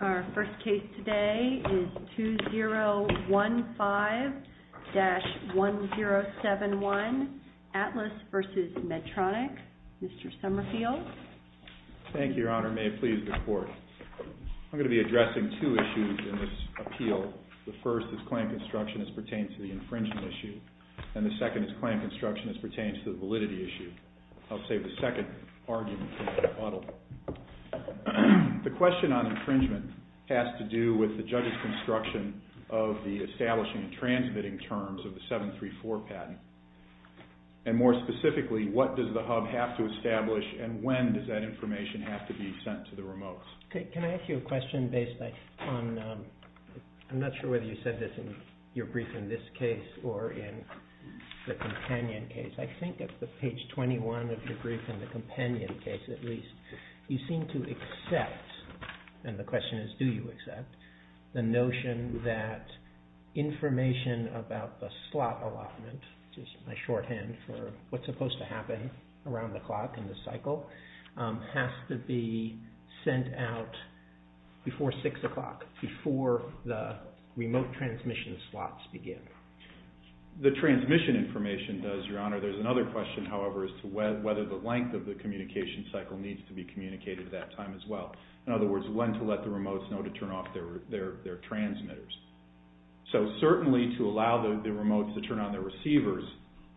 Our first case today is 2015-1071, Atlas v. Medtronic. Mr. Summerfield. Thank you, Your Honor. May it please the Court. I'm going to be addressing two issues in this appeal. The first is claim construction as pertains to the infringement issue, and the second is claim construction as pertains to the validity issue. The question on infringement has to do with the judge's construction of the establishing and transmitting terms of the 734 patent, and more specifically, what does the hub have to establish and when does that information have to be sent to the remotes? Can I ask you a question based on – I'm not sure whether you said this in your brief in this case or in the companion case. I think at page 21 of your brief in the companion case, at least, you seem to accept, and the question is do you accept, the notion that information about the slot allotment, which is my shorthand for what's supposed to happen around the clock in the cycle, has to be sent out before 6 o'clock, before the remote transmission slots begin. The transmission information does, Your Honor. There's another question, however, as to whether the length of the communication cycle needs to be communicated at that time as well. In other words, when to let the remotes know to turn off their transmitters. So certainly to allow the remotes to turn on their receivers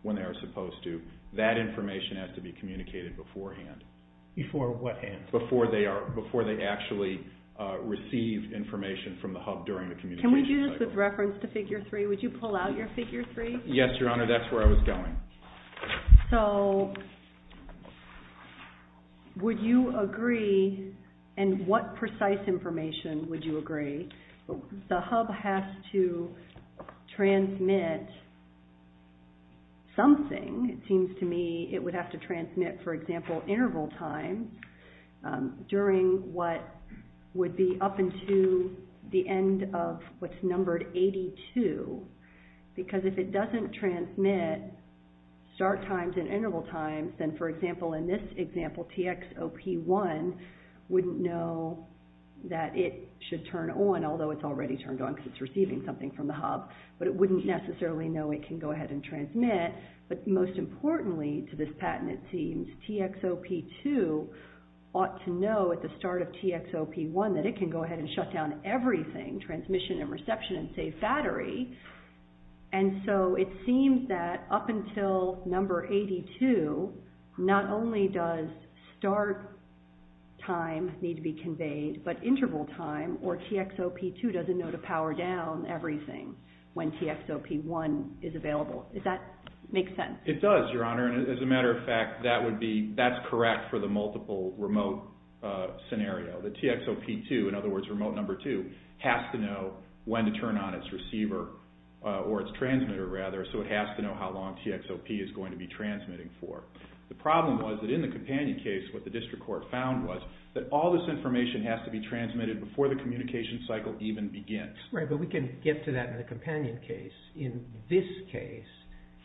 when they are supposed to, that information has to be communicated beforehand. Before what hand? Before they actually receive information from the hub during the communication cycle. Just with reference to figure 3, would you pull out your figure 3? Yes, Your Honor, that's where I was going. So would you agree, and what precise information would you agree, the hub has to transmit something, it seems to me, it would have to transmit, for example, interval time during what would be up until the end of what's numbered 82. Because if it doesn't transmit start times and interval times, then for example, in this example, TXOP1 wouldn't know that it should turn on, although it's already turned on because it's receiving something from the hub, but it wouldn't necessarily know it can go ahead and transmit. But most importantly to this patent, it seems, TXOP2 ought to know at the start of TXOP1 that it can go ahead and shut down everything, transmission and reception and save battery. And so it seems that up until number 82, not only does start time need to be conveyed, but interval time, or TXOP2 doesn't know to power down everything when TXOP1 is available. Does that make sense? It does, Your Honor, and as a matter of fact, that would be, that's correct for the multiple remote scenario. The TXOP2, in other words, remote number two, has to know when to turn on its receiver, or its transmitter rather, so it has to know how long TXOP is going to be transmitting for. The problem was that in the companion case, what the district court found was that all this information has to be transmitted before the communication cycle even begins. Right, but we can get to that in the companion case. In this case,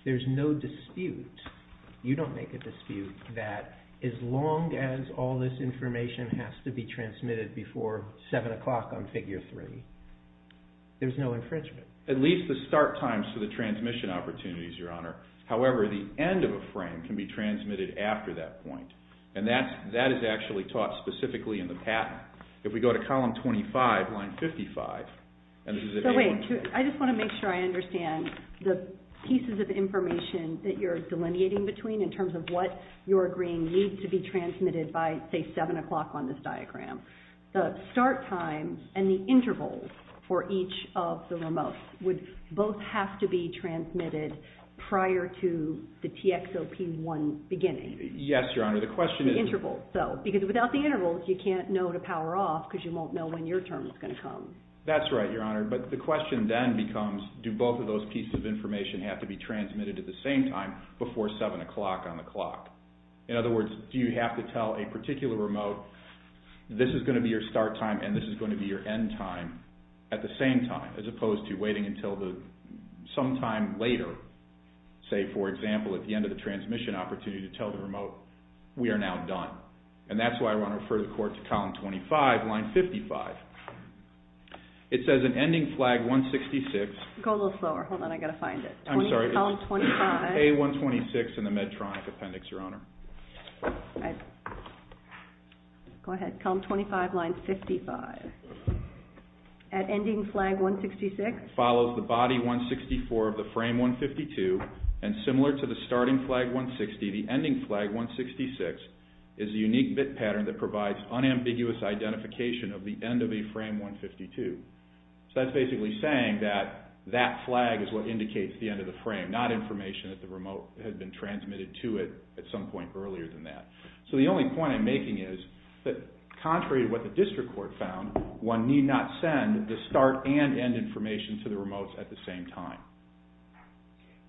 there's no dispute. You don't make a dispute that as long as all this information has to be transmitted before 7 o'clock on figure three, there's no infringement. At least the start times for the transmission opportunities, Your Honor. However, the end of a frame can be transmitted after that point, and that is actually taught specifically in the patent. If we go to column 25, line 55, and this is if you want to... So wait, I just want to make sure I understand the pieces of information that you're delineating between in terms of what you're agreeing needs to be transmitted by, say, 7 o'clock on this diagram. The start time and the interval for each of the remotes would both have to be transmitted prior to the TXOP1 beginning. Yes, Your Honor, the question is... That's right, Your Honor, but the question then becomes, do both of those pieces of information have to be transmitted at the same time before 7 o'clock on the clock? In other words, do you have to tell a particular remote, this is going to be your start time and this is going to be your end time at the same time, as opposed to waiting until sometime later? Say, for example, at the end of the transmission opportunity to tell the remote, we are now done. And that's why I want to refer the court to column 25, line 55. It says in ending flag 166... Go a little slower. Hold on, I've got to find it. I'm sorry. Column 25. A126 in the Medtronic appendix, Your Honor. Go ahead. Column 25, line 55. At ending flag 166... This is a unique bit pattern that provides unambiguous identification of the end of a frame 152. So that's basically saying that that flag is what indicates the end of the frame, not information that the remote had been transmitted to it at some point earlier than that. So the only point I'm making is that contrary to what the district court found, one need not send the start and end information to the remotes at the same time.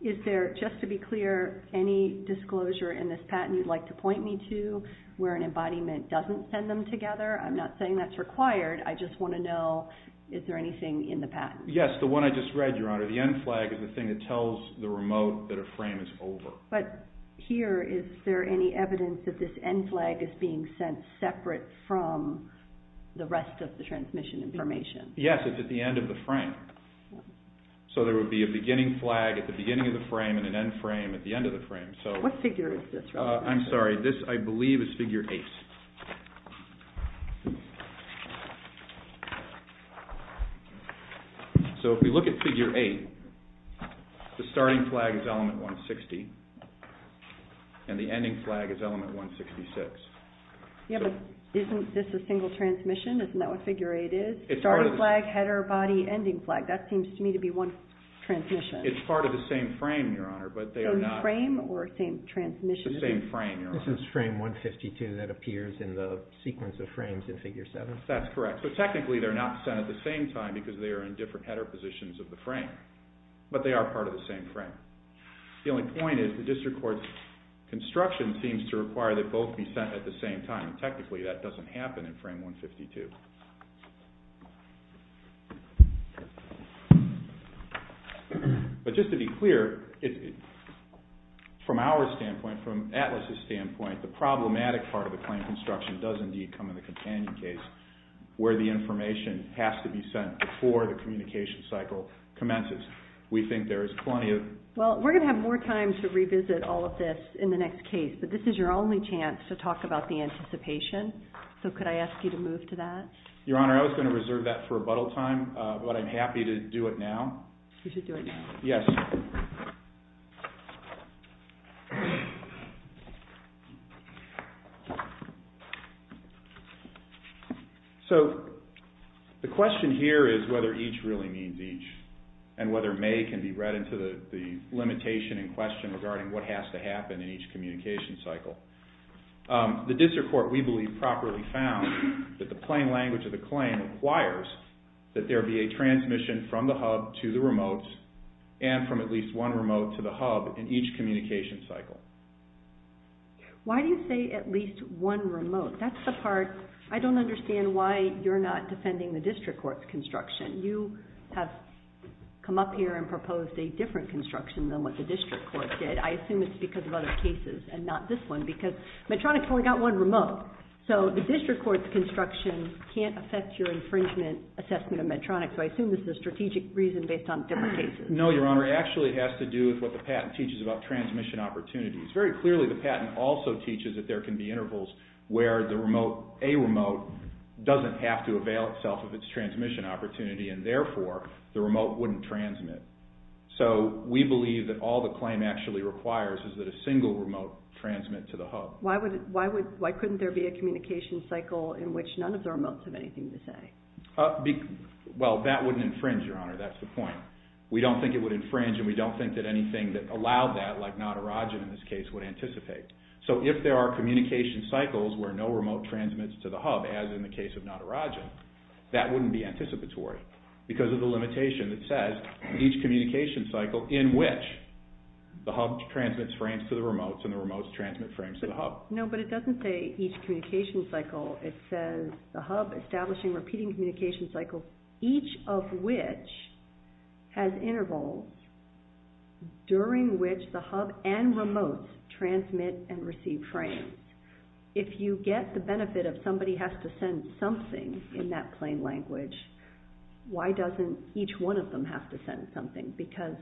Is there, just to be clear, any disclosure in this patent you'd like to point me to where an embodiment doesn't send them together? I'm not saying that's required. I just want to know, is there anything in the patent? Yes, the one I just read, Your Honor. The end flag is the thing that tells the remote that a frame is over. But here, is there any evidence that this end flag is being sent separate from the rest of the transmission information? Yes, it's at the end of the frame. So there would be a beginning flag at the beginning of the frame and an end frame at the end of the frame. What figure is this? I'm sorry, this I believe is figure 8. So if we look at figure 8, the starting flag is element 160 and the ending flag is element 166. Yeah, but isn't this a single transmission? Isn't that what figure 8 is? It's part of the same frame, Your Honor. Same frame or same transmission? It's the same frame, Your Honor. This is frame 152 that appears in the sequence of frames in figure 7. That's correct. So technically they're not sent at the same time because they are in different header positions of the frame. But they are part of the same frame. The only point is the district court's construction seems to require that both be sent at the same time. Technically that doesn't happen in frame 152. But just to be clear, from our standpoint, from ATLAS's standpoint, the problematic part of the claim construction does indeed come in the companion case where the information has to be sent before the communication cycle commences. We think there is plenty of... Well, we're going to have more time to revisit all of this in the next case, but this is your only chance to talk about the anticipation. So could I ask you to move to that? Your Honor, I was going to reserve that for rebuttal time, but I'm happy to do it now. You should do it now. Yes. Thank you. So the question here is whether each really means each and whether may can be read into the limitation in question regarding what has to happen in each communication cycle. The district court, we believe, properly found that the plain language of the claim requires that there be a transmission from the hub to the remote and from at least one remote to the hub in each communication cycle. Why do you say at least one remote? That's the part... I don't understand why you're not defending the district court's construction. You have come up here and proposed a different construction than what the district court did. I assume it's because of other cases and not this one because Medtronic's only got one remote. So the district court's construction can't affect your infringement assessment of Medtronic, so I assume this is a strategic reason based on different cases. No, Your Honor. It actually has to do with what the patent teaches about transmission opportunities. Very clearly the patent also teaches that there can be intervals where the remote, a remote, doesn't have to avail itself of its transmission opportunity and therefore the remote wouldn't transmit. So we believe that all the claim actually requires is that a single remote transmit to the hub. Why couldn't there be a communication cycle in which none of the remotes have anything to say? Well, that wouldn't infringe, Your Honor. That's the point. We don't think it would infringe and we don't think that anything that allowed that, like Natarajan in this case, would anticipate. So if there are communication cycles where no remote transmits to the hub, as in the case of Natarajan, that wouldn't be anticipatory because of the limitation that says each communication cycle in which the hub transmits frames to the remotes and the remotes transmit frames to the hub. No, but it doesn't say each communication cycle. It says the hub establishing repeating communication cycles, each of which has intervals during which the hub and remotes transmit and receive frames. If you get the benefit of somebody has to send something in that plain language, why doesn't each one of them have to send something? Because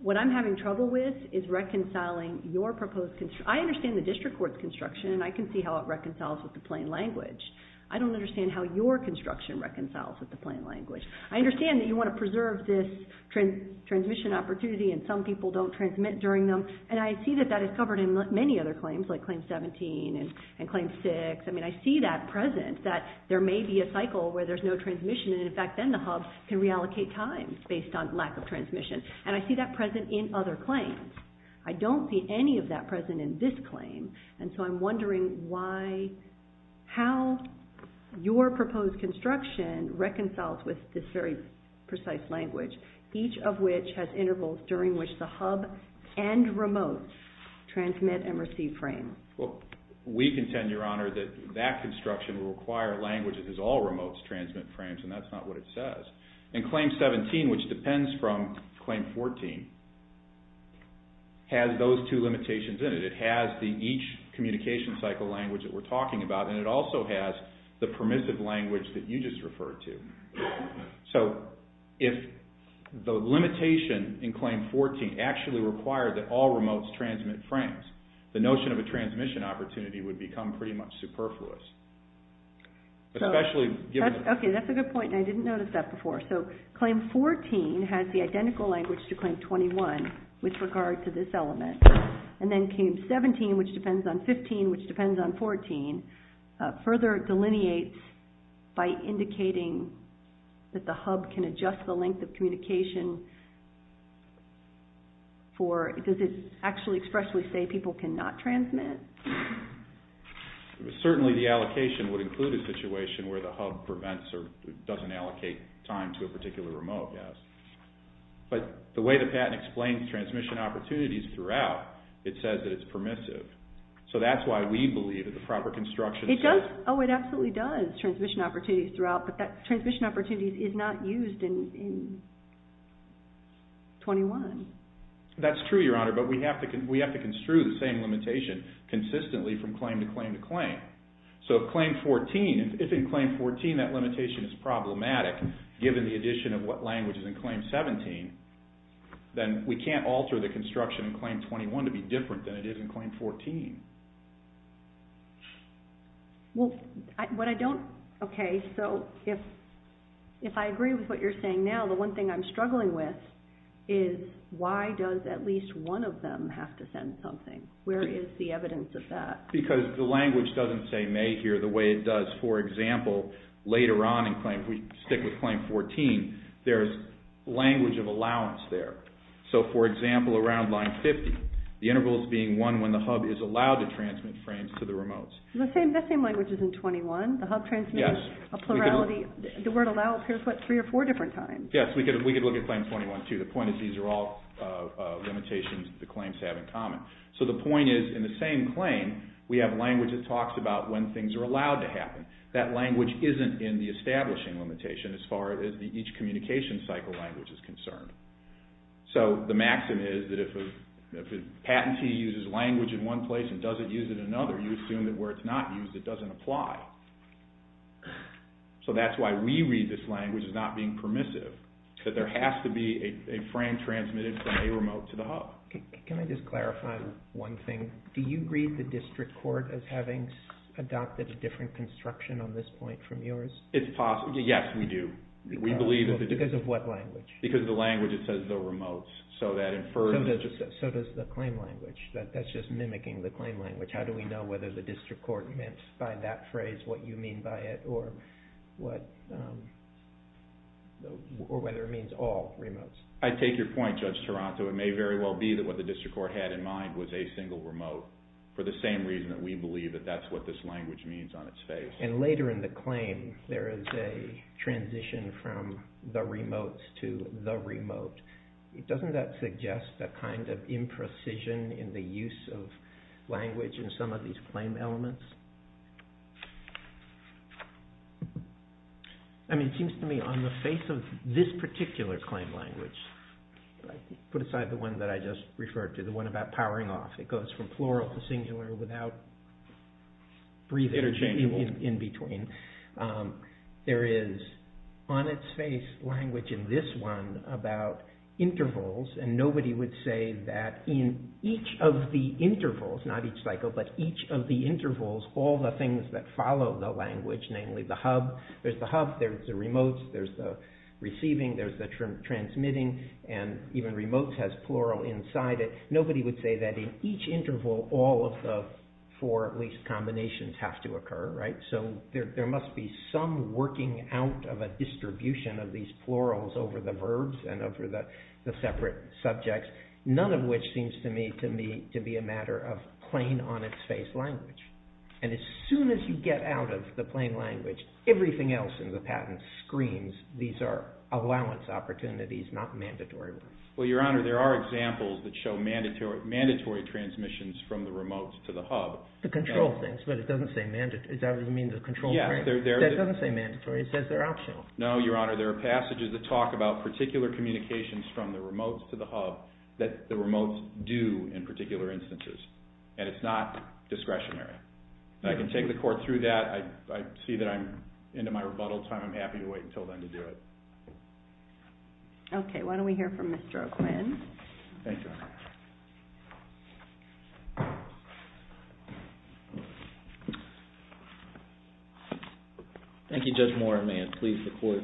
what I'm having trouble with is reconciling your proposed construction. I understand the district court's construction and I can see how it reconciles with the plain language. I don't understand how your construction reconciles with the plain language. I understand that you want to preserve this transmission opportunity and some people don't transmit during them, and I see that that is covered in many other claims like Claim 17 and Claim 6. I mean, I see that present, that there may be a cycle where there's no transmission and, in fact, then the hub can reallocate time based on lack of transmission, and I see that present in other claims. I don't see any of that present in this claim, and so I'm wondering how your proposed construction reconciles with this very precise language, each of which has intervals during which the hub and remotes transmit and receive frames. Well, we contend, Your Honor, that that construction will require language that has all remotes transmit frames, and that's not what it says. And Claim 17, which depends from Claim 14, has those two limitations in it. It has the each communication cycle language that we're talking about, and it also has the permissive language that you just referred to. So if the limitation in Claim 14 actually required that all remotes transmit frames, the notion of a transmission opportunity would become pretty much superfluous. Okay, that's a good point, and I didn't notice that before. So Claim 14 has the identical language to Claim 21 with regard to this element, and then Claim 17, which depends on 15, which depends on 14, further delineates by indicating that the hub can adjust the length of communication for, does it actually expressly say people cannot transmit? Certainly the allocation would include a situation where the hub prevents or doesn't allocate time to a particular remote, yes. But the way the patent explains transmission opportunities throughout, it says that it's permissive. So that's why we believe that the proper construction says... It does, oh, it absolutely does, transmission opportunities throughout, but that transmission opportunity is not used in 21. That's true, Your Honor, but we have to construe the same limitation consistently from claim to claim to claim. So if Claim 14, if in Claim 14 that limitation is problematic, given the addition of what language is in Claim 17, then we can't alter the construction in Claim 21 to be different than it is in Claim 14. Well, what I don't, okay, so if I agree with what you're saying now, the one thing I'm struggling with is why does at least one of them have to send something? Where is the evidence of that? Because the language doesn't say may here the way it does. For example, later on in Claim, if we stick with Claim 14, there's language of allowance there. So, for example, around Line 50, the interval is being one when the hub is allowed to transmit frames to the remotes. The same language is in 21. The hub transmits a plurality. The word allow appears, what, three or four different times. Yes, we could look at Claim 21 too. The point is these are all limitations that the claims have in common. So the point is, in the same claim, we have language that talks about when things are allowed to happen. That language isn't in the establishing limitation as far as each communication cycle language is concerned. So the maxim is that if a patentee uses language in one place and doesn't use it in another, you assume that where it's not used, it doesn't apply. So that's why we read this language as not being permissive, that there has to be a frame transmitted from a remote to the hub. Can I just clarify one thing? Do you read the district court as having adopted a different construction on this point from yours? It's possible. Yes, we do. Because of what language? Because of the language that says the remotes. So does the claim language. That's just mimicking the claim language. How do we know whether the district court meant by that phrase what you mean by it or whether it means all remotes? I take your point, Judge Toronto. It may very well be that what the district court had in mind was a single remote for the same reason that we believe that that's what this language means on its face. And later in the claim, there is a transition from the remotes to the remote. Doesn't that suggest a kind of imprecision in the use of language in some of these claim elements? I mean, it seems to me on the face of this particular claim language, put aside the one that I just referred to, the one about powering off. It goes from plural to singular without breathing in between. There is on its face language in this one about intervals. And nobody would say that in each of the intervals, not each cycle, but each of the intervals, all the things that follow the language, namely the hub. There's the hub. There's the remotes. There's the receiving. There's the transmitting. And even remotes has plural inside it. Nobody would say that in each interval, all of the four at least combinations have to occur. So there must be some working out of a distribution of these plurals over the verbs and over the separate subjects, none of which seems to me to be a matter of plain on its face language. And as soon as you get out of the plain language, everything else in the patent screams these are allowance opportunities, not mandatory ones. Well, Your Honor, there are examples that show mandatory transmissions from the remotes to the hub. The control things, but it doesn't say mandatory. That doesn't mean the control. That doesn't say mandatory. It says they're optional. No, Your Honor. There are passages that talk about particular communications from the remotes to the hub that the remotes do in particular instances. And it's not discretionary. And I can take the court through that. I see that I'm into my rebuttal time. I'm happy to wait until then to do it. Okay. Why don't we hear from Mr. O'Quinn. Thank you, Your Honor. Thank you, Judge Moore. May it please the court.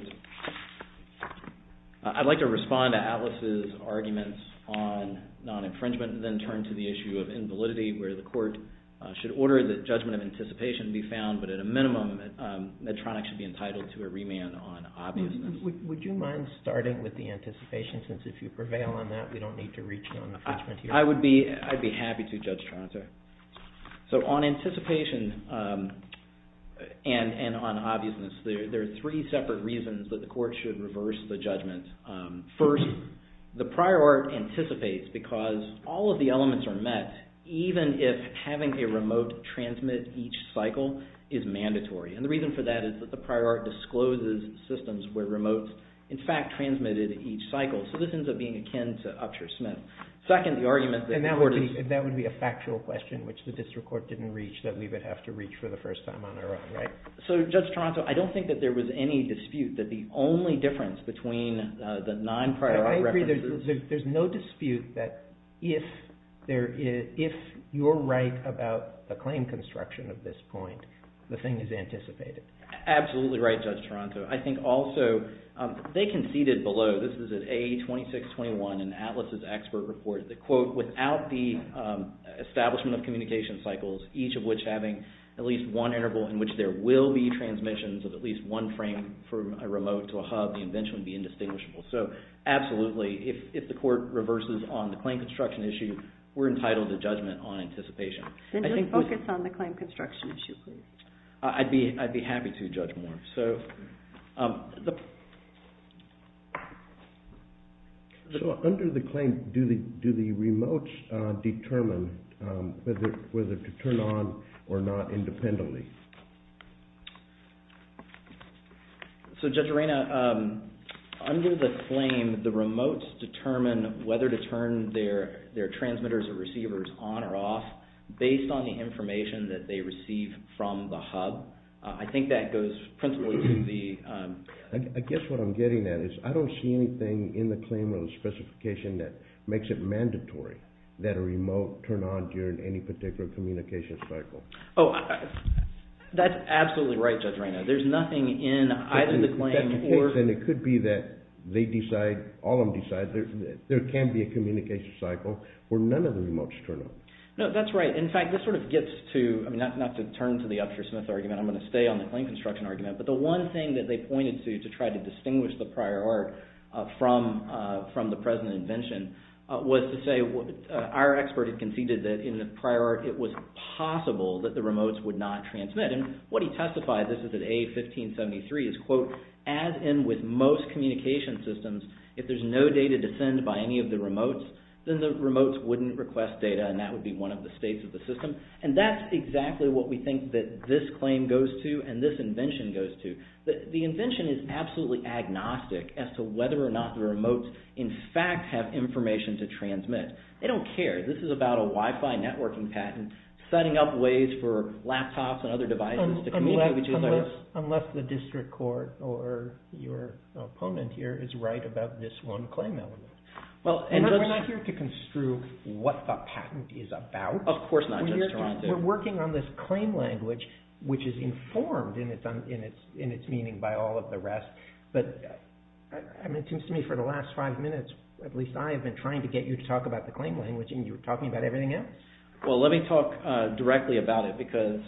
I'd like to respond to Alice's arguments on non-infringement and then turn to the issue of invalidity where the court should order that judgment of anticipation be found, but at a minimum Medtronic should be entitled to a remand on obviousness. Would you mind starting with the anticipation since if you prevail on that, we don't need to reach non-infringement here? I would be happy to, Judge Tronter. So on anticipation and on obviousness, there are three separate reasons that the court should reverse the judgment. First, the prior art anticipates because all of the elements are met even if having a remote transmit each cycle is mandatory. And the reason for that is that the prior art discloses systems where remotes in fact transmitted each cycle. So this ends up being akin to Upshur-Smith. And that would be a factual question which the district court didn't reach that we would have to reach for the first time on our own, right? So, Judge Tronter, I don't think that there was any dispute that the only difference between the non-prior art references... I agree. There's no dispute that if you're right about the claim construction of this point, the thing is anticipated. Absolutely right, Judge Tronter. I think also they conceded below. This is at A2621 in Atlas's expert report. The quote, without the establishment of communication cycles, each of which having at least one interval in which there will be transmissions of at least one frame from a remote to a hub, the invention would be indistinguishable. So absolutely, if the court reverses on the claim construction issue, we're entitled to judgment on anticipation. Then just focus on the claim construction issue, please. I'd be happy to, Judge Moore. So under the claim, do the remotes determine whether to turn on or not independently? So, Judge Arena, under the claim, the remotes determine whether to turn their transmitters or receivers on or off based on the information that they receive from the hub. I think that goes principally to the... I guess what I'm getting at is I don't see anything in the claim or the specification that makes it mandatory that a remote turn on during any particular communication cycle. Oh, that's absolutely right, Judge Arena. There's nothing in either the claim or... Then it could be that they decide, all of them decide, there can be a communication cycle where none of the remotes turn on. No, that's right. In fact, this sort of gets to, not to turn to the Upshur-Smith argument, I'm going to stay on the claim construction argument, but the one thing that they pointed to to try to distinguish the prior art from the present invention was to say, our expert had conceded that in the prior art it was possible that the remotes would not transmit. And what he testified, this is at A1573, is, quote, as in with most communication systems, if there's no data to send by any of the remotes, then the remotes wouldn't request data, and that would be one of the states of the system. And that's exactly what we think that this claim goes to and this invention goes to. The invention is absolutely agnostic as to whether or not the remotes, in fact, have information to transmit. They don't care. This is about a Wi-Fi networking patent, setting up ways for laptops and other devices to communicate. Unless the district court or your opponent here is right about this one claim element. We're not here to construe what the patent is about. Of course not. We're working on this claim language, which is informed in its meaning by all of the rest. But it seems to me for the last five minutes, at least I have been trying to get you to talk about the claim language and you're talking about everything else. Well, let me talk directly about it, because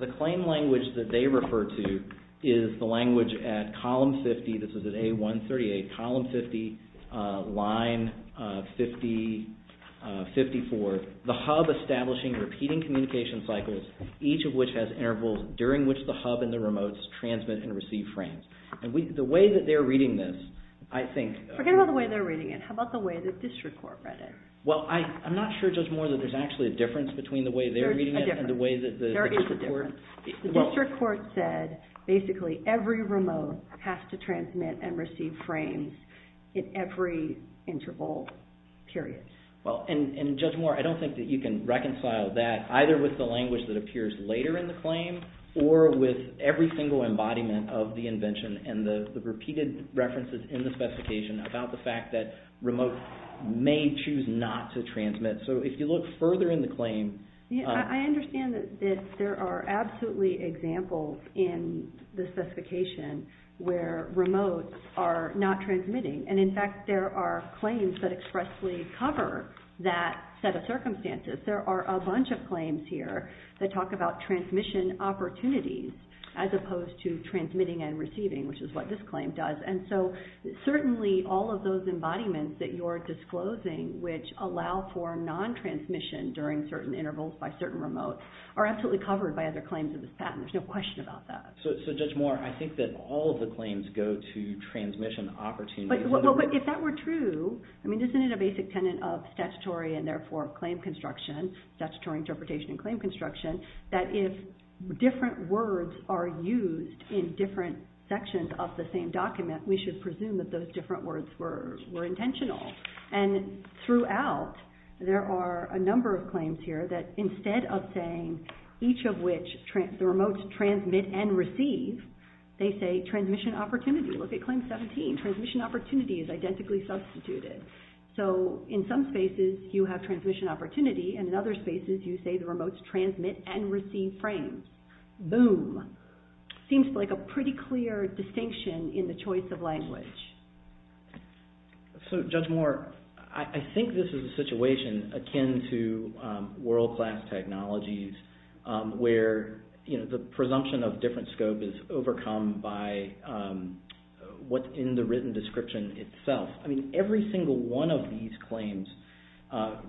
the claim language that they refer to is the language at column 50, this is at A138, column 50, line 54. The hub establishing repeating communication cycles, each of which has intervals during which the hub and the remotes transmit and receive frames. And the way that they're reading this, I think... Forget about the way they're reading it. How about the way the district court read it? Well, I'm not sure, Judge Moore, that there's actually a difference between the way they're reading it and the way that the district court... There is a difference. The district court said, basically, every remote has to transmit and receive frames in every interval period. Well, and Judge Moore, I don't think that you can reconcile that either with the language that appears later in the claim or with every single embodiment of the invention and the repeated references in the specification about the fact that remotes may choose not to transmit. So if you look further in the claim... I understand that there are absolutely examples in the specification where remotes are not transmitting. And, in fact, there are claims that expressly cover that set of circumstances. There are a bunch of claims here that talk about transmission opportunities as opposed to transmitting and receiving, which is what this claim does. And so, certainly, all of those embodiments that you're disclosing, which allow for non-transmission during certain intervals by certain remotes, are absolutely covered by other claims of this patent. There's no question about that. So, Judge Moore, I think that all of the claims go to transmission opportunities. Well, but if that were true... I mean, isn't it a basic tenet of statutory and, therefore, claim construction, statutory interpretation and claim construction, that if different words are used in different sections of the same document, we should presume that those different words were intentional? And, throughout, there are a number of claims here that, instead of saying each of which the remotes transmit and receive, they say transmission opportunity. Look at Claim 17. Transmission opportunity is identically substituted. So, in some spaces, you have transmission opportunity, and, in other spaces, you say the remotes transmit and receive frames. Boom. Seems like a pretty clear distinction in the choice of language. So, Judge Moore, I think this is a situation akin to world-class technologies where the presumption of different scope is overcome by what's in the written description itself. I mean, every single one of these claims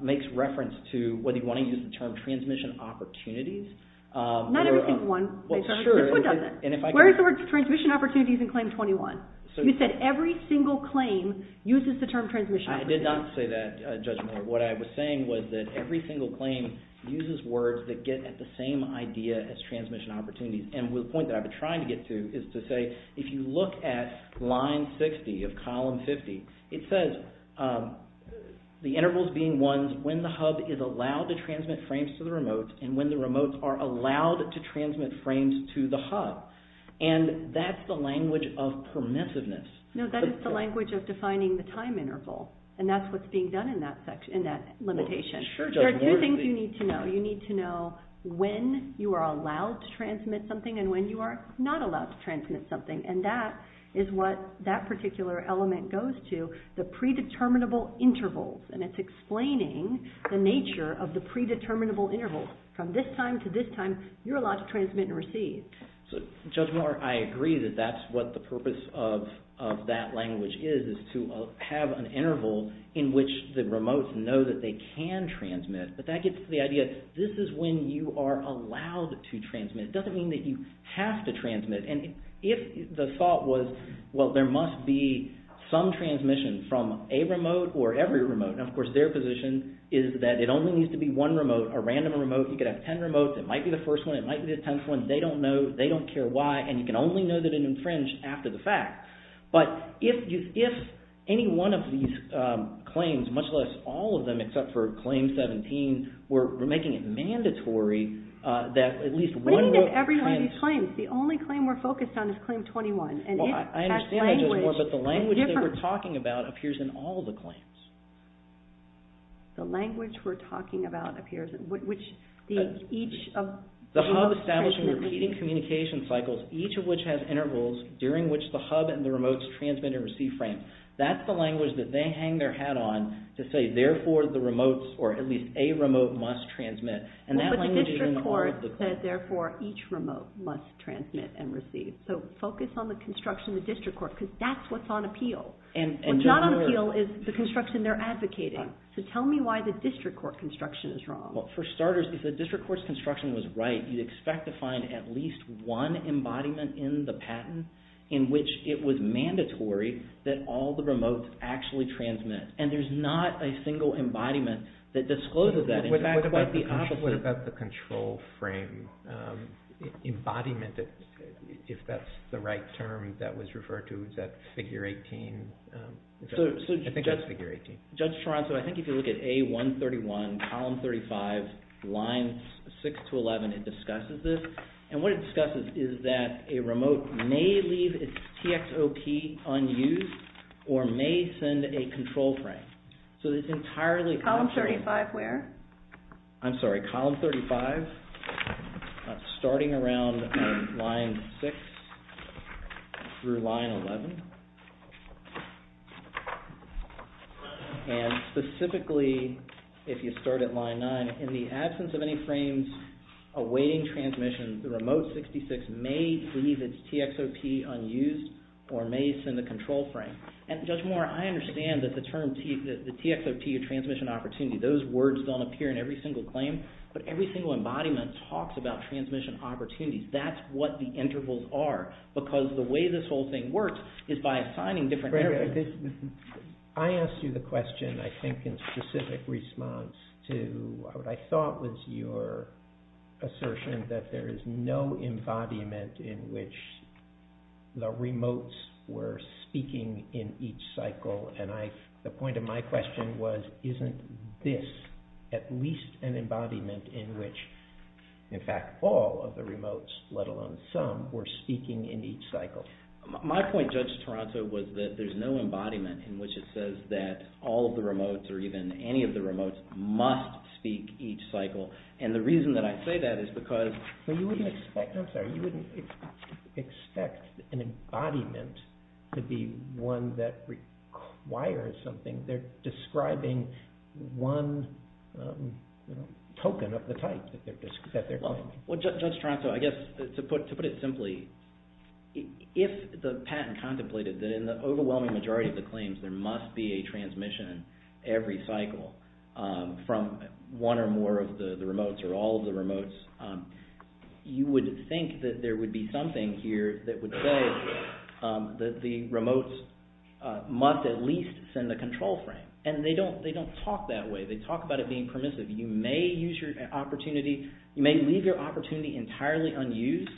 makes reference to whether you want to use the term transmission opportunities. Not every single one. Well, sure. Where is the word transmission opportunities in Claim 21? You said every single claim uses the term transmission opportunities. I did not say that, Judge Moore. What I was saying was that every single claim uses words that get at the same idea as transmission opportunities. And the point that I've been trying to get to is to say, if you look at Line 60 of Column 50, it says the intervals being ones when the hub is allowed to transmit frames to the remotes and when the remotes are allowed to transmit frames to the hub. And that's the language of permissiveness. No, that is the language of defining the time interval, and that's what's being done in that limitation. There are two things you need to know. You need to know when you are allowed to transmit something and when you are not allowed to transmit something, and that is what that particular element goes to, the predeterminable intervals. And it's explaining the nature of the predeterminable intervals. From this time to this time, you're allowed to transmit and receive. Judge Moore, I agree that that's what the purpose of that language is, to have an interval in which the remotes know that they can transmit. But that gets to the idea, this is when you are allowed to transmit. It doesn't mean that you have to transmit. And if the thought was, well, there must be some transmission from a remote or every remote, and of course their position is that it only needs to be one remote, a random remote. You could have ten remotes. It might be the first one. It might be the tenth one. They don't know. They don't care why. And you can only know that it infringed after the fact. But if any one of these claims, much less all of them except for Claim 17, we're making it mandatory that at least one remote… What do you mean if every one of these claims? The only claim we're focused on is Claim 21. I understand that, Judge Moore, but the language that we're talking about appears in all the claims. The language we're talking about appears in which each… The hub establishing repeating communication cycles, each of which has intervals during which the hub and the remotes transmit and receive frames. That's the language that they hang their hat on to say, therefore the remotes or at least a remote must transmit. And that language is in all of the claims. But the district court said, therefore, each remote must transmit and receive. So focus on the construction of the district court because that's what's on appeal. What's not on appeal is the construction they're advocating. So tell me why the district court construction is wrong. Well, for starters, if the district court's construction was right, you'd expect to find at least one embodiment in the patent in which it was mandatory that all the remotes actually transmit. And there's not a single embodiment that discloses that. In fact, quite the opposite. What about the control frame embodiment, if that's the right term that was referred to? Is that Figure 18? I think that's Figure 18. Judge Toronto, I think if you look at A131, Column 35, Lines 6 to 11, it discusses this. And what it discusses is that a remote may leave its TXOP unused or may send a control frame. So it's entirely... Column 35 where? I'm sorry, Column 35, starting around Line 6 through Line 11. And specifically, if you start at Line 9, in the absence of any frames awaiting transmission, the remote 66 may leave its TXOP unused or may send a control frame. And Judge Moore, I understand that the term TXOP, Transmission Opportunity, those words don't appear in every single claim, but every single embodiment talks about transmission opportunities. That's what the intervals are. Because the way this whole thing works is by assigning different... I asked you the question, I think, in specific response to what I thought was your assertion that there is no embodiment in which the remotes were speaking in each cycle. And the point of my question was, isn't this at least an embodiment in which, in fact, all of the remotes, let alone some, were speaking in each cycle? My point, Judge Toronto, was that there's no embodiment in which it says that all of the remotes, or even any of the remotes, must speak each cycle. And the reason that I say that is because... But you wouldn't expect, I'm sorry, you wouldn't expect an embodiment to be one that requires something. They're describing one token of the type that they're describing. Well, Judge Toronto, I guess, to put it simply, if the patent contemplated that in the overwhelming majority of the claims there must be a transmission every cycle from one or more of the remotes, or all of the remotes, you would think that there would be something here that would say that the remotes must at least send a control frame. And they don't talk that way. They talk about it being permissive. You may use your opportunity, you may leave your opportunity entirely unused,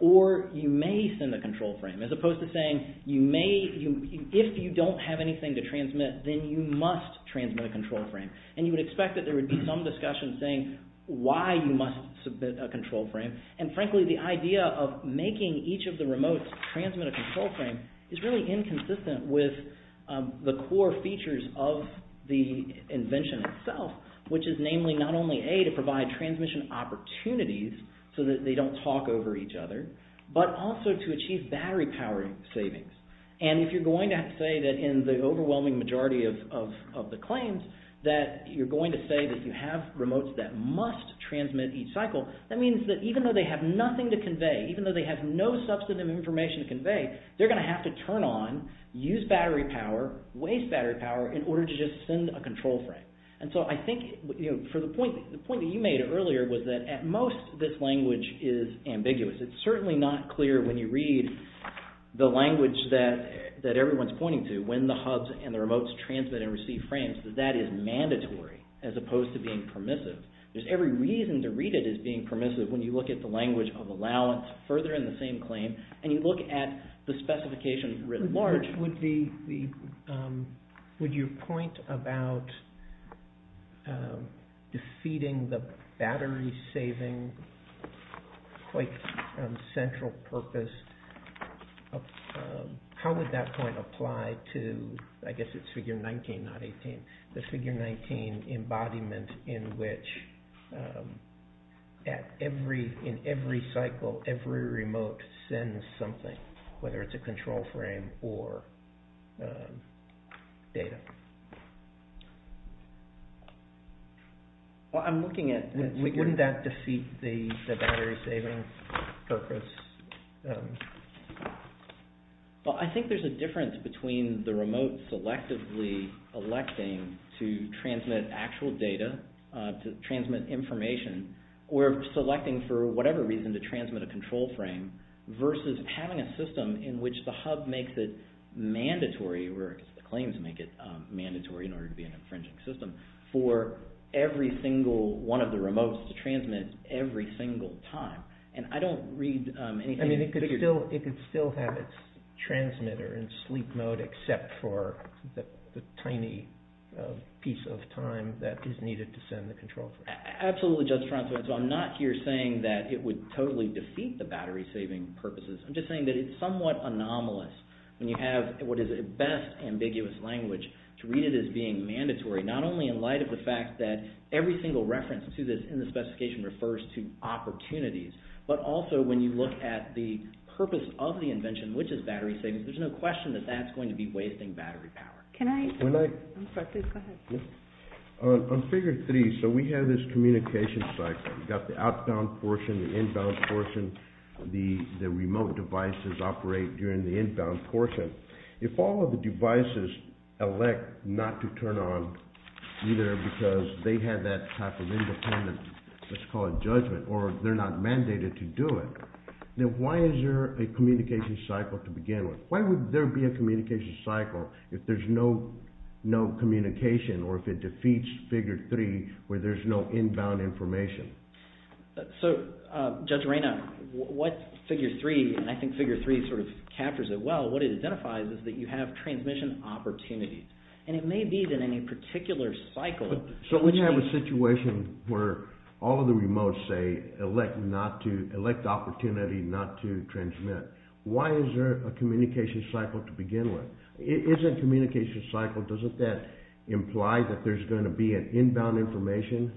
or you may send a control frame, as opposed to saying, if you don't have anything to transmit, then you must transmit a control frame. And you would expect that there would be some discussion saying why you must submit a control frame. And frankly, the idea of making each of the remotes transmit a control frame is really inconsistent with the core features of the invention itself, which is namely not only, A, to provide transmission opportunities so that they don't talk over each other, but also to achieve battery power savings. And if you're going to say that in the overwhelming majority of the claims that you're going to say that you have remotes that must transmit each cycle, that means that even though they have nothing to convey, even though they have no substantive information to convey, they're going to have to turn on, use battery power, waste battery power in order to just send a control frame. And so I think, for the point that you made earlier, was that at most this language is ambiguous. It's certainly not clear when you read the language that everyone's pointing to, when the hubs and the remotes transmit and receive frames, that that is mandatory as opposed to being permissive. There's every reason to read it as being permissive when you look at the language of allowance further in the same claim and you look at the specification writ large. Would your point about defeating the battery saving, quite central purpose, how would that point apply to, I guess it's figure 19, not 18, the figure 19 embodiment in which in every cycle every remote sends something, whether it's a control frame or data? Well, I'm looking at... Wouldn't that defeat the battery saving purpose? Well, I think there's a difference between the remote selectively electing to transmit actual data, to transmit information, or selecting for whatever reason to transmit a control frame versus having a system in which the hub makes it mandatory, or the claims make it mandatory in order to be an infringing system, for every single one of the remotes to transmit every single time. And I don't read anything... I mean, it could still have its transmitter in sleep mode except for the tiny piece of time that is needed to send the control frame. Absolutely, Judge Francois. So I'm not here saying that it would totally defeat the battery saving purposes. I'm just saying that it's somewhat anomalous when you have what is at best ambiguous language to read it as being mandatory, not only in light of the fact that every single reference to this in the specification refers to opportunities, but also when you look at the purpose of the invention, which is battery savings, there's no question that that's going to be wasting battery power. Can I... On figure three, so we have this communication cycle. We've got the outbound portion, the inbound portion, the remote devices operate during the inbound portion. If all of the devices elect not to turn on, either because they have that type of independent, let's call it judgment, or they're not mandated to do it, then why is there a communication cycle to begin with? Why would there be a communication cycle if there's no communication or if it defeats figure three where there's no inbound information? So, Judge Reina, what figure three, and I think figure three sort of captures it well, what it identifies is that you have transmission opportunities, and it may be that in a particular cycle... So we have a situation where all of the remotes say elect opportunity not to transmit. Why is there a communication cycle to begin with? If there's a communication cycle, doesn't that imply that there's going to be an inbound information?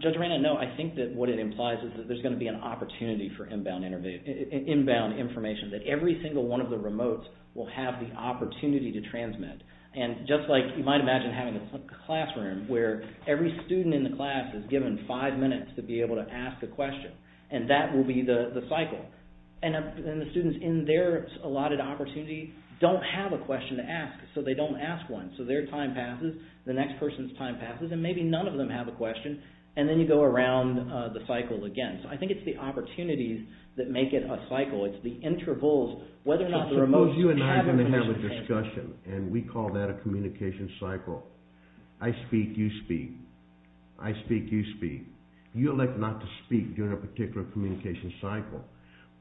Judge Reina, no, I think that what it implies is that there's going to be an opportunity for inbound information, that every single one of the remotes will have the opportunity to transmit. And just like you might imagine having a classroom where every student in the class is given five minutes to be able to ask a question, and that will be the cycle. And the students in their allotted opportunity don't have a question to ask, so they don't ask one. So their time passes, the next person's time passes, and maybe none of them have a question, and then you go around the cycle again. So I think it's the opportunities that make it a cycle. It's the intervals, whether or not the remotes... Suppose you and I are going to have a discussion, and we call that a communication cycle. I speak, you speak. I speak, you speak. You elect not to speak during a particular communication cycle.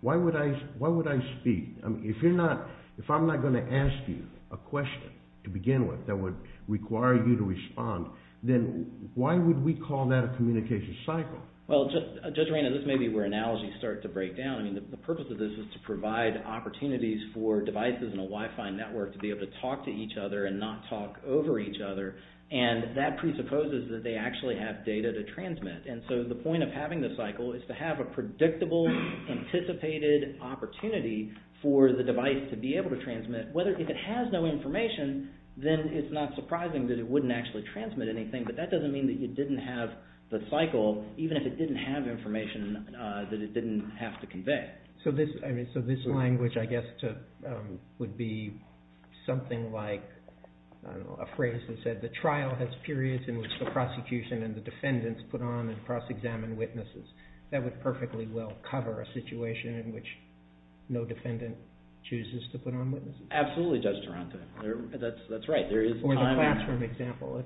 Why would I speak? If I'm not going to ask you a question to begin with that would require you to respond, then why would we call that a communication cycle? Well, Judge Arena, this may be where analogies start to break down. I mean, the purpose of this is to provide opportunities for devices in a Wi-Fi network to be able to talk to each other and not talk over each other, and that presupposes that they actually have data to transmit. And so the point of having this cycle is to have a predictable, anticipated opportunity for the device to be able to transmit. If it has no information, then it's not surprising that it wouldn't actually transmit anything, but that doesn't mean that you didn't have the cycle, even if it didn't have information that it didn't have to convey. So this language, I guess, would be something like a phrase that said, the trial has periods in which the prosecution and the defendants put on and cross-examine witnesses. That would perfectly well cover a situation in which no defendant chooses to put on witnesses. Absolutely, Judge Taranto. That's right. Or the classroom example.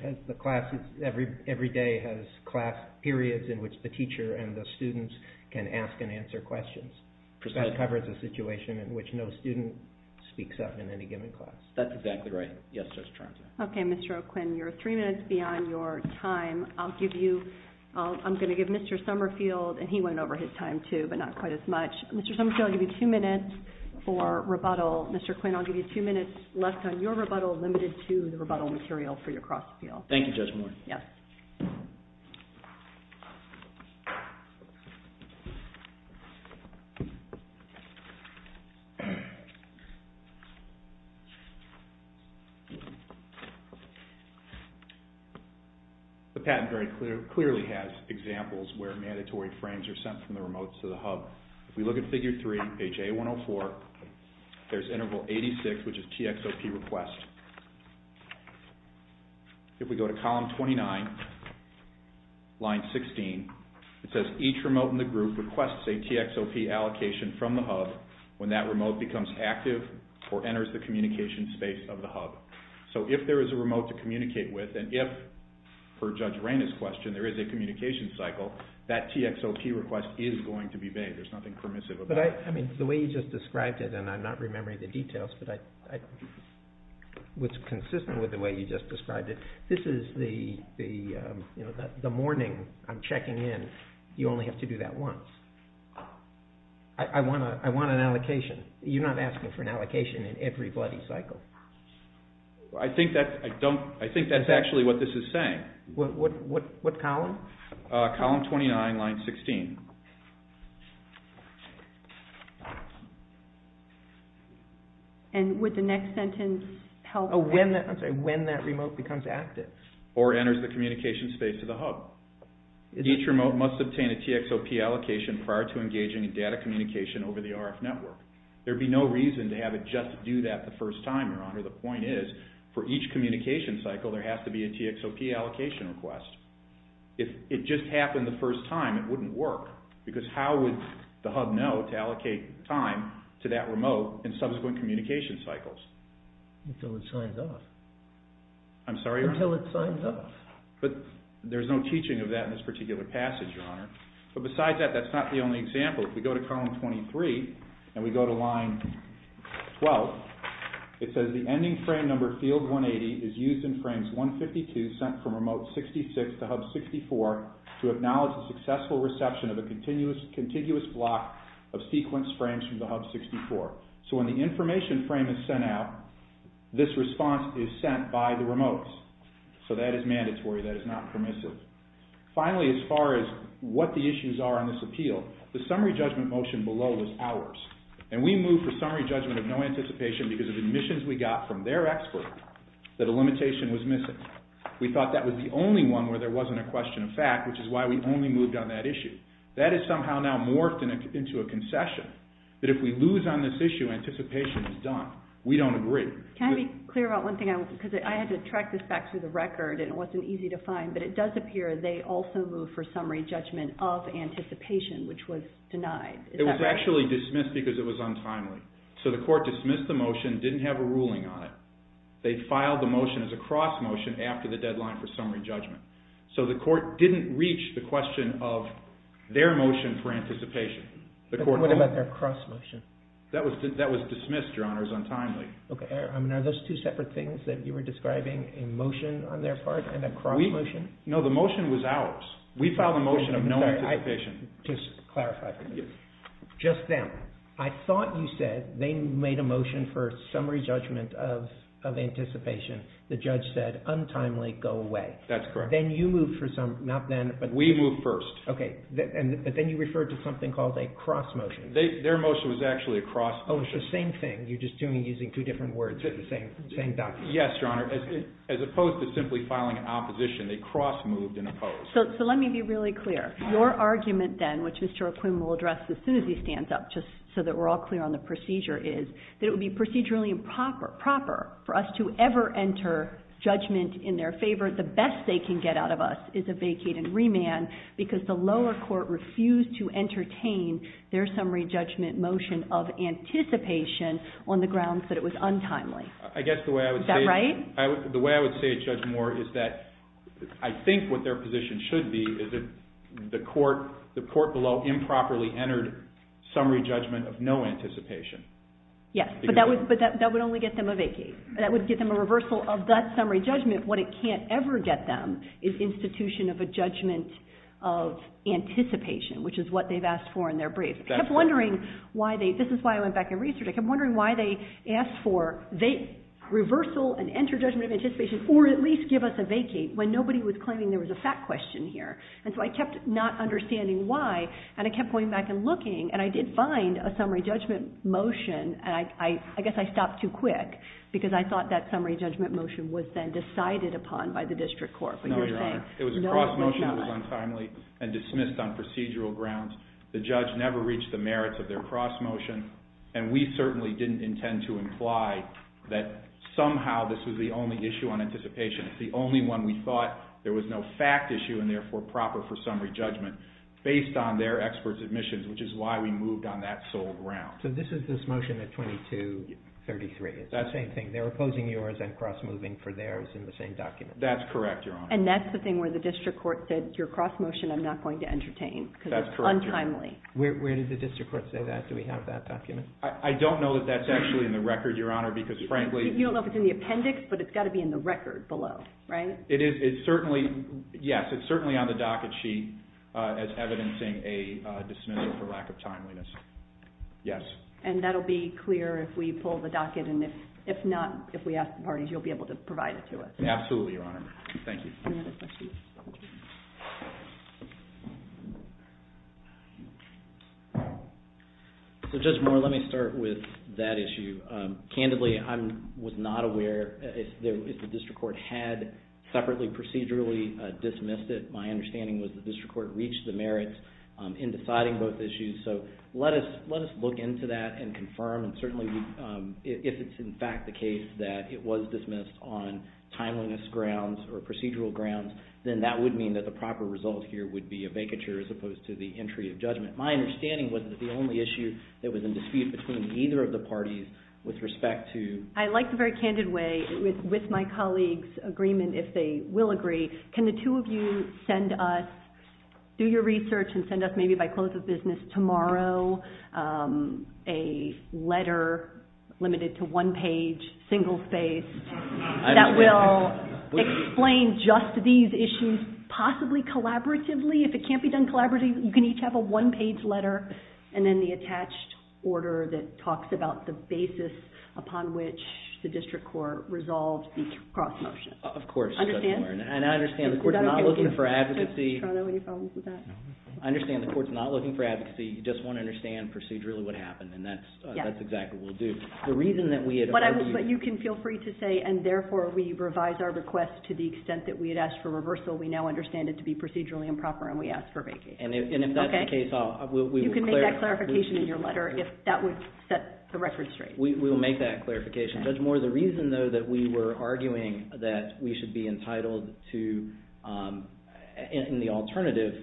Every day has class periods in which the teacher and the students can ask and answer questions. That covers a situation in which no student speaks up in any given class. That's exactly right. Yes, Judge Taranto. Okay, Mr. O'Quinn, you're three minutes beyond your time. I'm going to give Mr. Summerfield, and he went over his time too, but not quite as much. Mr. Summerfield, I'll give you two minutes for rebuttal. Mr. Quinn, I'll give you two minutes left on your rebuttal limited to the rebuttal material for your cross-appeal. Thank you, Judge Moore. The patent very clearly has examples where mandatory frames are sent from the remote to the hub. If we look at Figure 3, page A104, there's Interval 86, which is TXOP request. If we go to Column 29, line 16, it says each remote in the group requests a TXOP allocation from the hub when that remote becomes active or enters the communication space of the hub. So if there is a remote to communicate with, and if, per Judge Rayna's question, there is a communication cycle, that TXOP request is going to be made. There's nothing permissive about it. The way you just described it, and I'm not remembering the details, but I was consistent with the way you just described it. This is the morning I'm checking in. You only have to do that once. I want an allocation. You're not asking for an allocation in every bloody cycle. I think that's actually what this is saying. What column? Column 29, line 16. And would the next sentence help? I'm sorry, when that remote becomes active. Or enters the communication space of the hub. Each remote must obtain a TXOP allocation prior to engaging in data communication over the RF network. There'd be no reason to have it just do that the first time, Your Honor. The point is, for each communication cycle, there has to be a TXOP allocation request. If it just happened the first time, it wouldn't work. Because how would the hub know to allocate time to that remote in subsequent communication cycles? Until it signs off. I'm sorry? Until it signs off. But there's no teaching of that in this particular passage, Your Honor. But besides that, that's not the only example. If we go to column 23, and we go to line 12, it says the ending frame number, field 180, is used in frames 152 sent from remote 66 to hub 64 to acknowledge the successful reception of a contiguous block of sequence frames from the hub 64. So when the information frame is sent out, this response is sent by the remotes. So that is mandatory. That is not permissive. Finally, as far as what the issues are in this appeal, the summary judgment motion below was ours. And we moved for summary judgment of no anticipation because of admissions we got from their expert that a limitation was missing. We thought that was the only one where there wasn't a question of fact, which is why we only moved on that issue. That has somehow now morphed into a concession that if we lose on this issue, anticipation is done. We don't agree. Can I be clear about one thing? Because I had to track this back through the record, and it wasn't easy to find, but it does appear that they also moved for summary judgment of anticipation, which was denied. It was actually dismissed because it was untimely. So the court dismissed the motion, didn't have a ruling on it. They filed the motion as a cross motion after the deadline for summary judgment. So the court didn't reach the question of their motion for anticipation. What about their cross motion? That was dismissed, Your Honor, as untimely. Are those two separate things that you were describing, a motion on their part and a cross motion? No, the motion was ours. We filed a motion of no anticipation. Just to clarify for me. Just them. I thought you said they made a motion for summary judgment of anticipation. The judge said, untimely, go away. That's correct. Then you moved for some, not then, but... We moved first. Okay. But then you referred to something called a cross motion. Their motion was actually a cross motion. Oh, it's the same thing. You're just using two different words for the same document. Yes, Your Honor. As opposed to simply filing an opposition, they cross moved and opposed. So let me be really clear. Your argument then, which Mr. McQuinn will address as soon as he stands up, just so that we're all clear on the procedure, is that it would be procedurally improper for us to ever enter judgment in their favor. The best they can get out of us is a vacate and remand because the lower court refused to entertain their summary judgment motion of anticipation on the grounds that it was untimely. I guess the way I would say... Right? The way I would say it, Judge Moore, is that I think what their position should be is that the court below improperly entered summary judgment of no anticipation. Yes, but that would only get them a vacate. That would get them a reversal of that summary judgment. What it can't ever get them is institution of a judgment of anticipation, which is what they've asked for in their brief. This is why I went back and researched it. I kept wondering why they asked for reversal and enter judgment of anticipation or at least give us a vacate when nobody was claiming there was a fact question here. So I kept not understanding why, and I kept going back and looking, and I did find a summary judgment motion. I guess I stopped too quick because I thought that summary judgment motion was then decided upon by the district court. No, Your Honor. It was a cross motion that was untimely and dismissed on procedural grounds. The judge never reached the merits of their cross motion, and we certainly didn't intend to imply that somehow this was the only issue on anticipation. It's the only one we thought there was no fact issue and therefore proper for summary judgment based on their expert's admissions, which is why we moved on that sole ground. So this is this motion at 2233. It's that same thing. They were opposing yours and cross moving for theirs in the same document. That's correct, Your Honor. And that's the thing where the district court said, your cross motion I'm not going to entertain because it's untimely. Where did the district court say that? Do we have that document? I don't know that that's actually in the record, Your Honor, because frankly You don't know if it's in the appendix, but it's got to be in the record below, right? It is, it's certainly, yes, it's certainly on the docket sheet as evidencing a dismissal for lack of timeliness. Yes. And that'll be clear if we pull the docket, and if not, if we ask the parties, you'll be able to provide it to us. Absolutely, Your Honor. Thank you. Any other questions? So Judge Moore, let me start with that issue. Candidly, I was not aware if the district court had separately procedurally dismissed it. My understanding was the district court reached the merits in deciding both issues, so let us look into that and confirm, and certainly if it's in fact the case that it was dismissed on timeliness grounds or procedural grounds, then that would mean that the proper result here would be a vacature as opposed to the entry of judgment. My understanding was that the only issue that was in dispute between either of the parties with respect to... I like the very candid way, with my colleagues' agreement, if they will agree, can the two of you send us, do your research and send us maybe by close of business tomorrow a letter limited to one page, single-faced, that will explain just these issues possibly collaboratively. If it can't be done collaboratively, you can each have a one-page letter and then the attached order that talks about the basis upon which the district court resolved each cross-motion. Of course, Judge Moore. Understand? And I understand the court's not looking for advocacy. I understand the court's not looking for advocacy. You just want to understand procedurally what happened, and that's exactly what we'll do. The reason that we had argued... But you can feel free to say, and therefore we revise our request to the extent that we had asked for reversal, we now understand it to be procedurally improper and we ask for vacancy. And if that's the case... You can make that clarification in your letter if that would set the record straight. We will make that clarification. Judge Moore, the reason, though, that we were arguing that we should be entitled in the alternative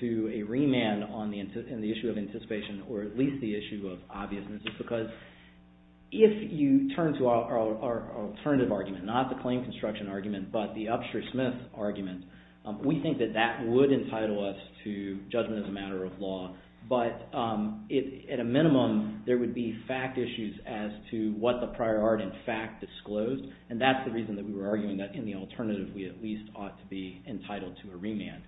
to a remand on the issue of anticipation or at least the issue of obviousness is because if you turn to our alternative argument, not the claim construction argument, but the Upshur-Smith argument, we think that that would entitle us to judgment as a matter of law, but at a minimum there would be fact issues as to what the prior art, in fact, disclosed, and that's the reason that we were arguing that in the alternative we at least ought to be entitled to a remand.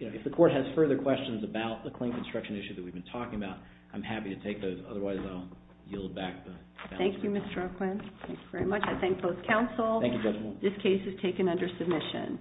If the court has further questions about the claim construction issue that we've been talking about, I'm happy to take those. Otherwise, I'll yield back the balance. Thank you, Mr. Rockland. Thank you very much. I thank both counsel. Thank you, Judge Moore. This case is taken under submission.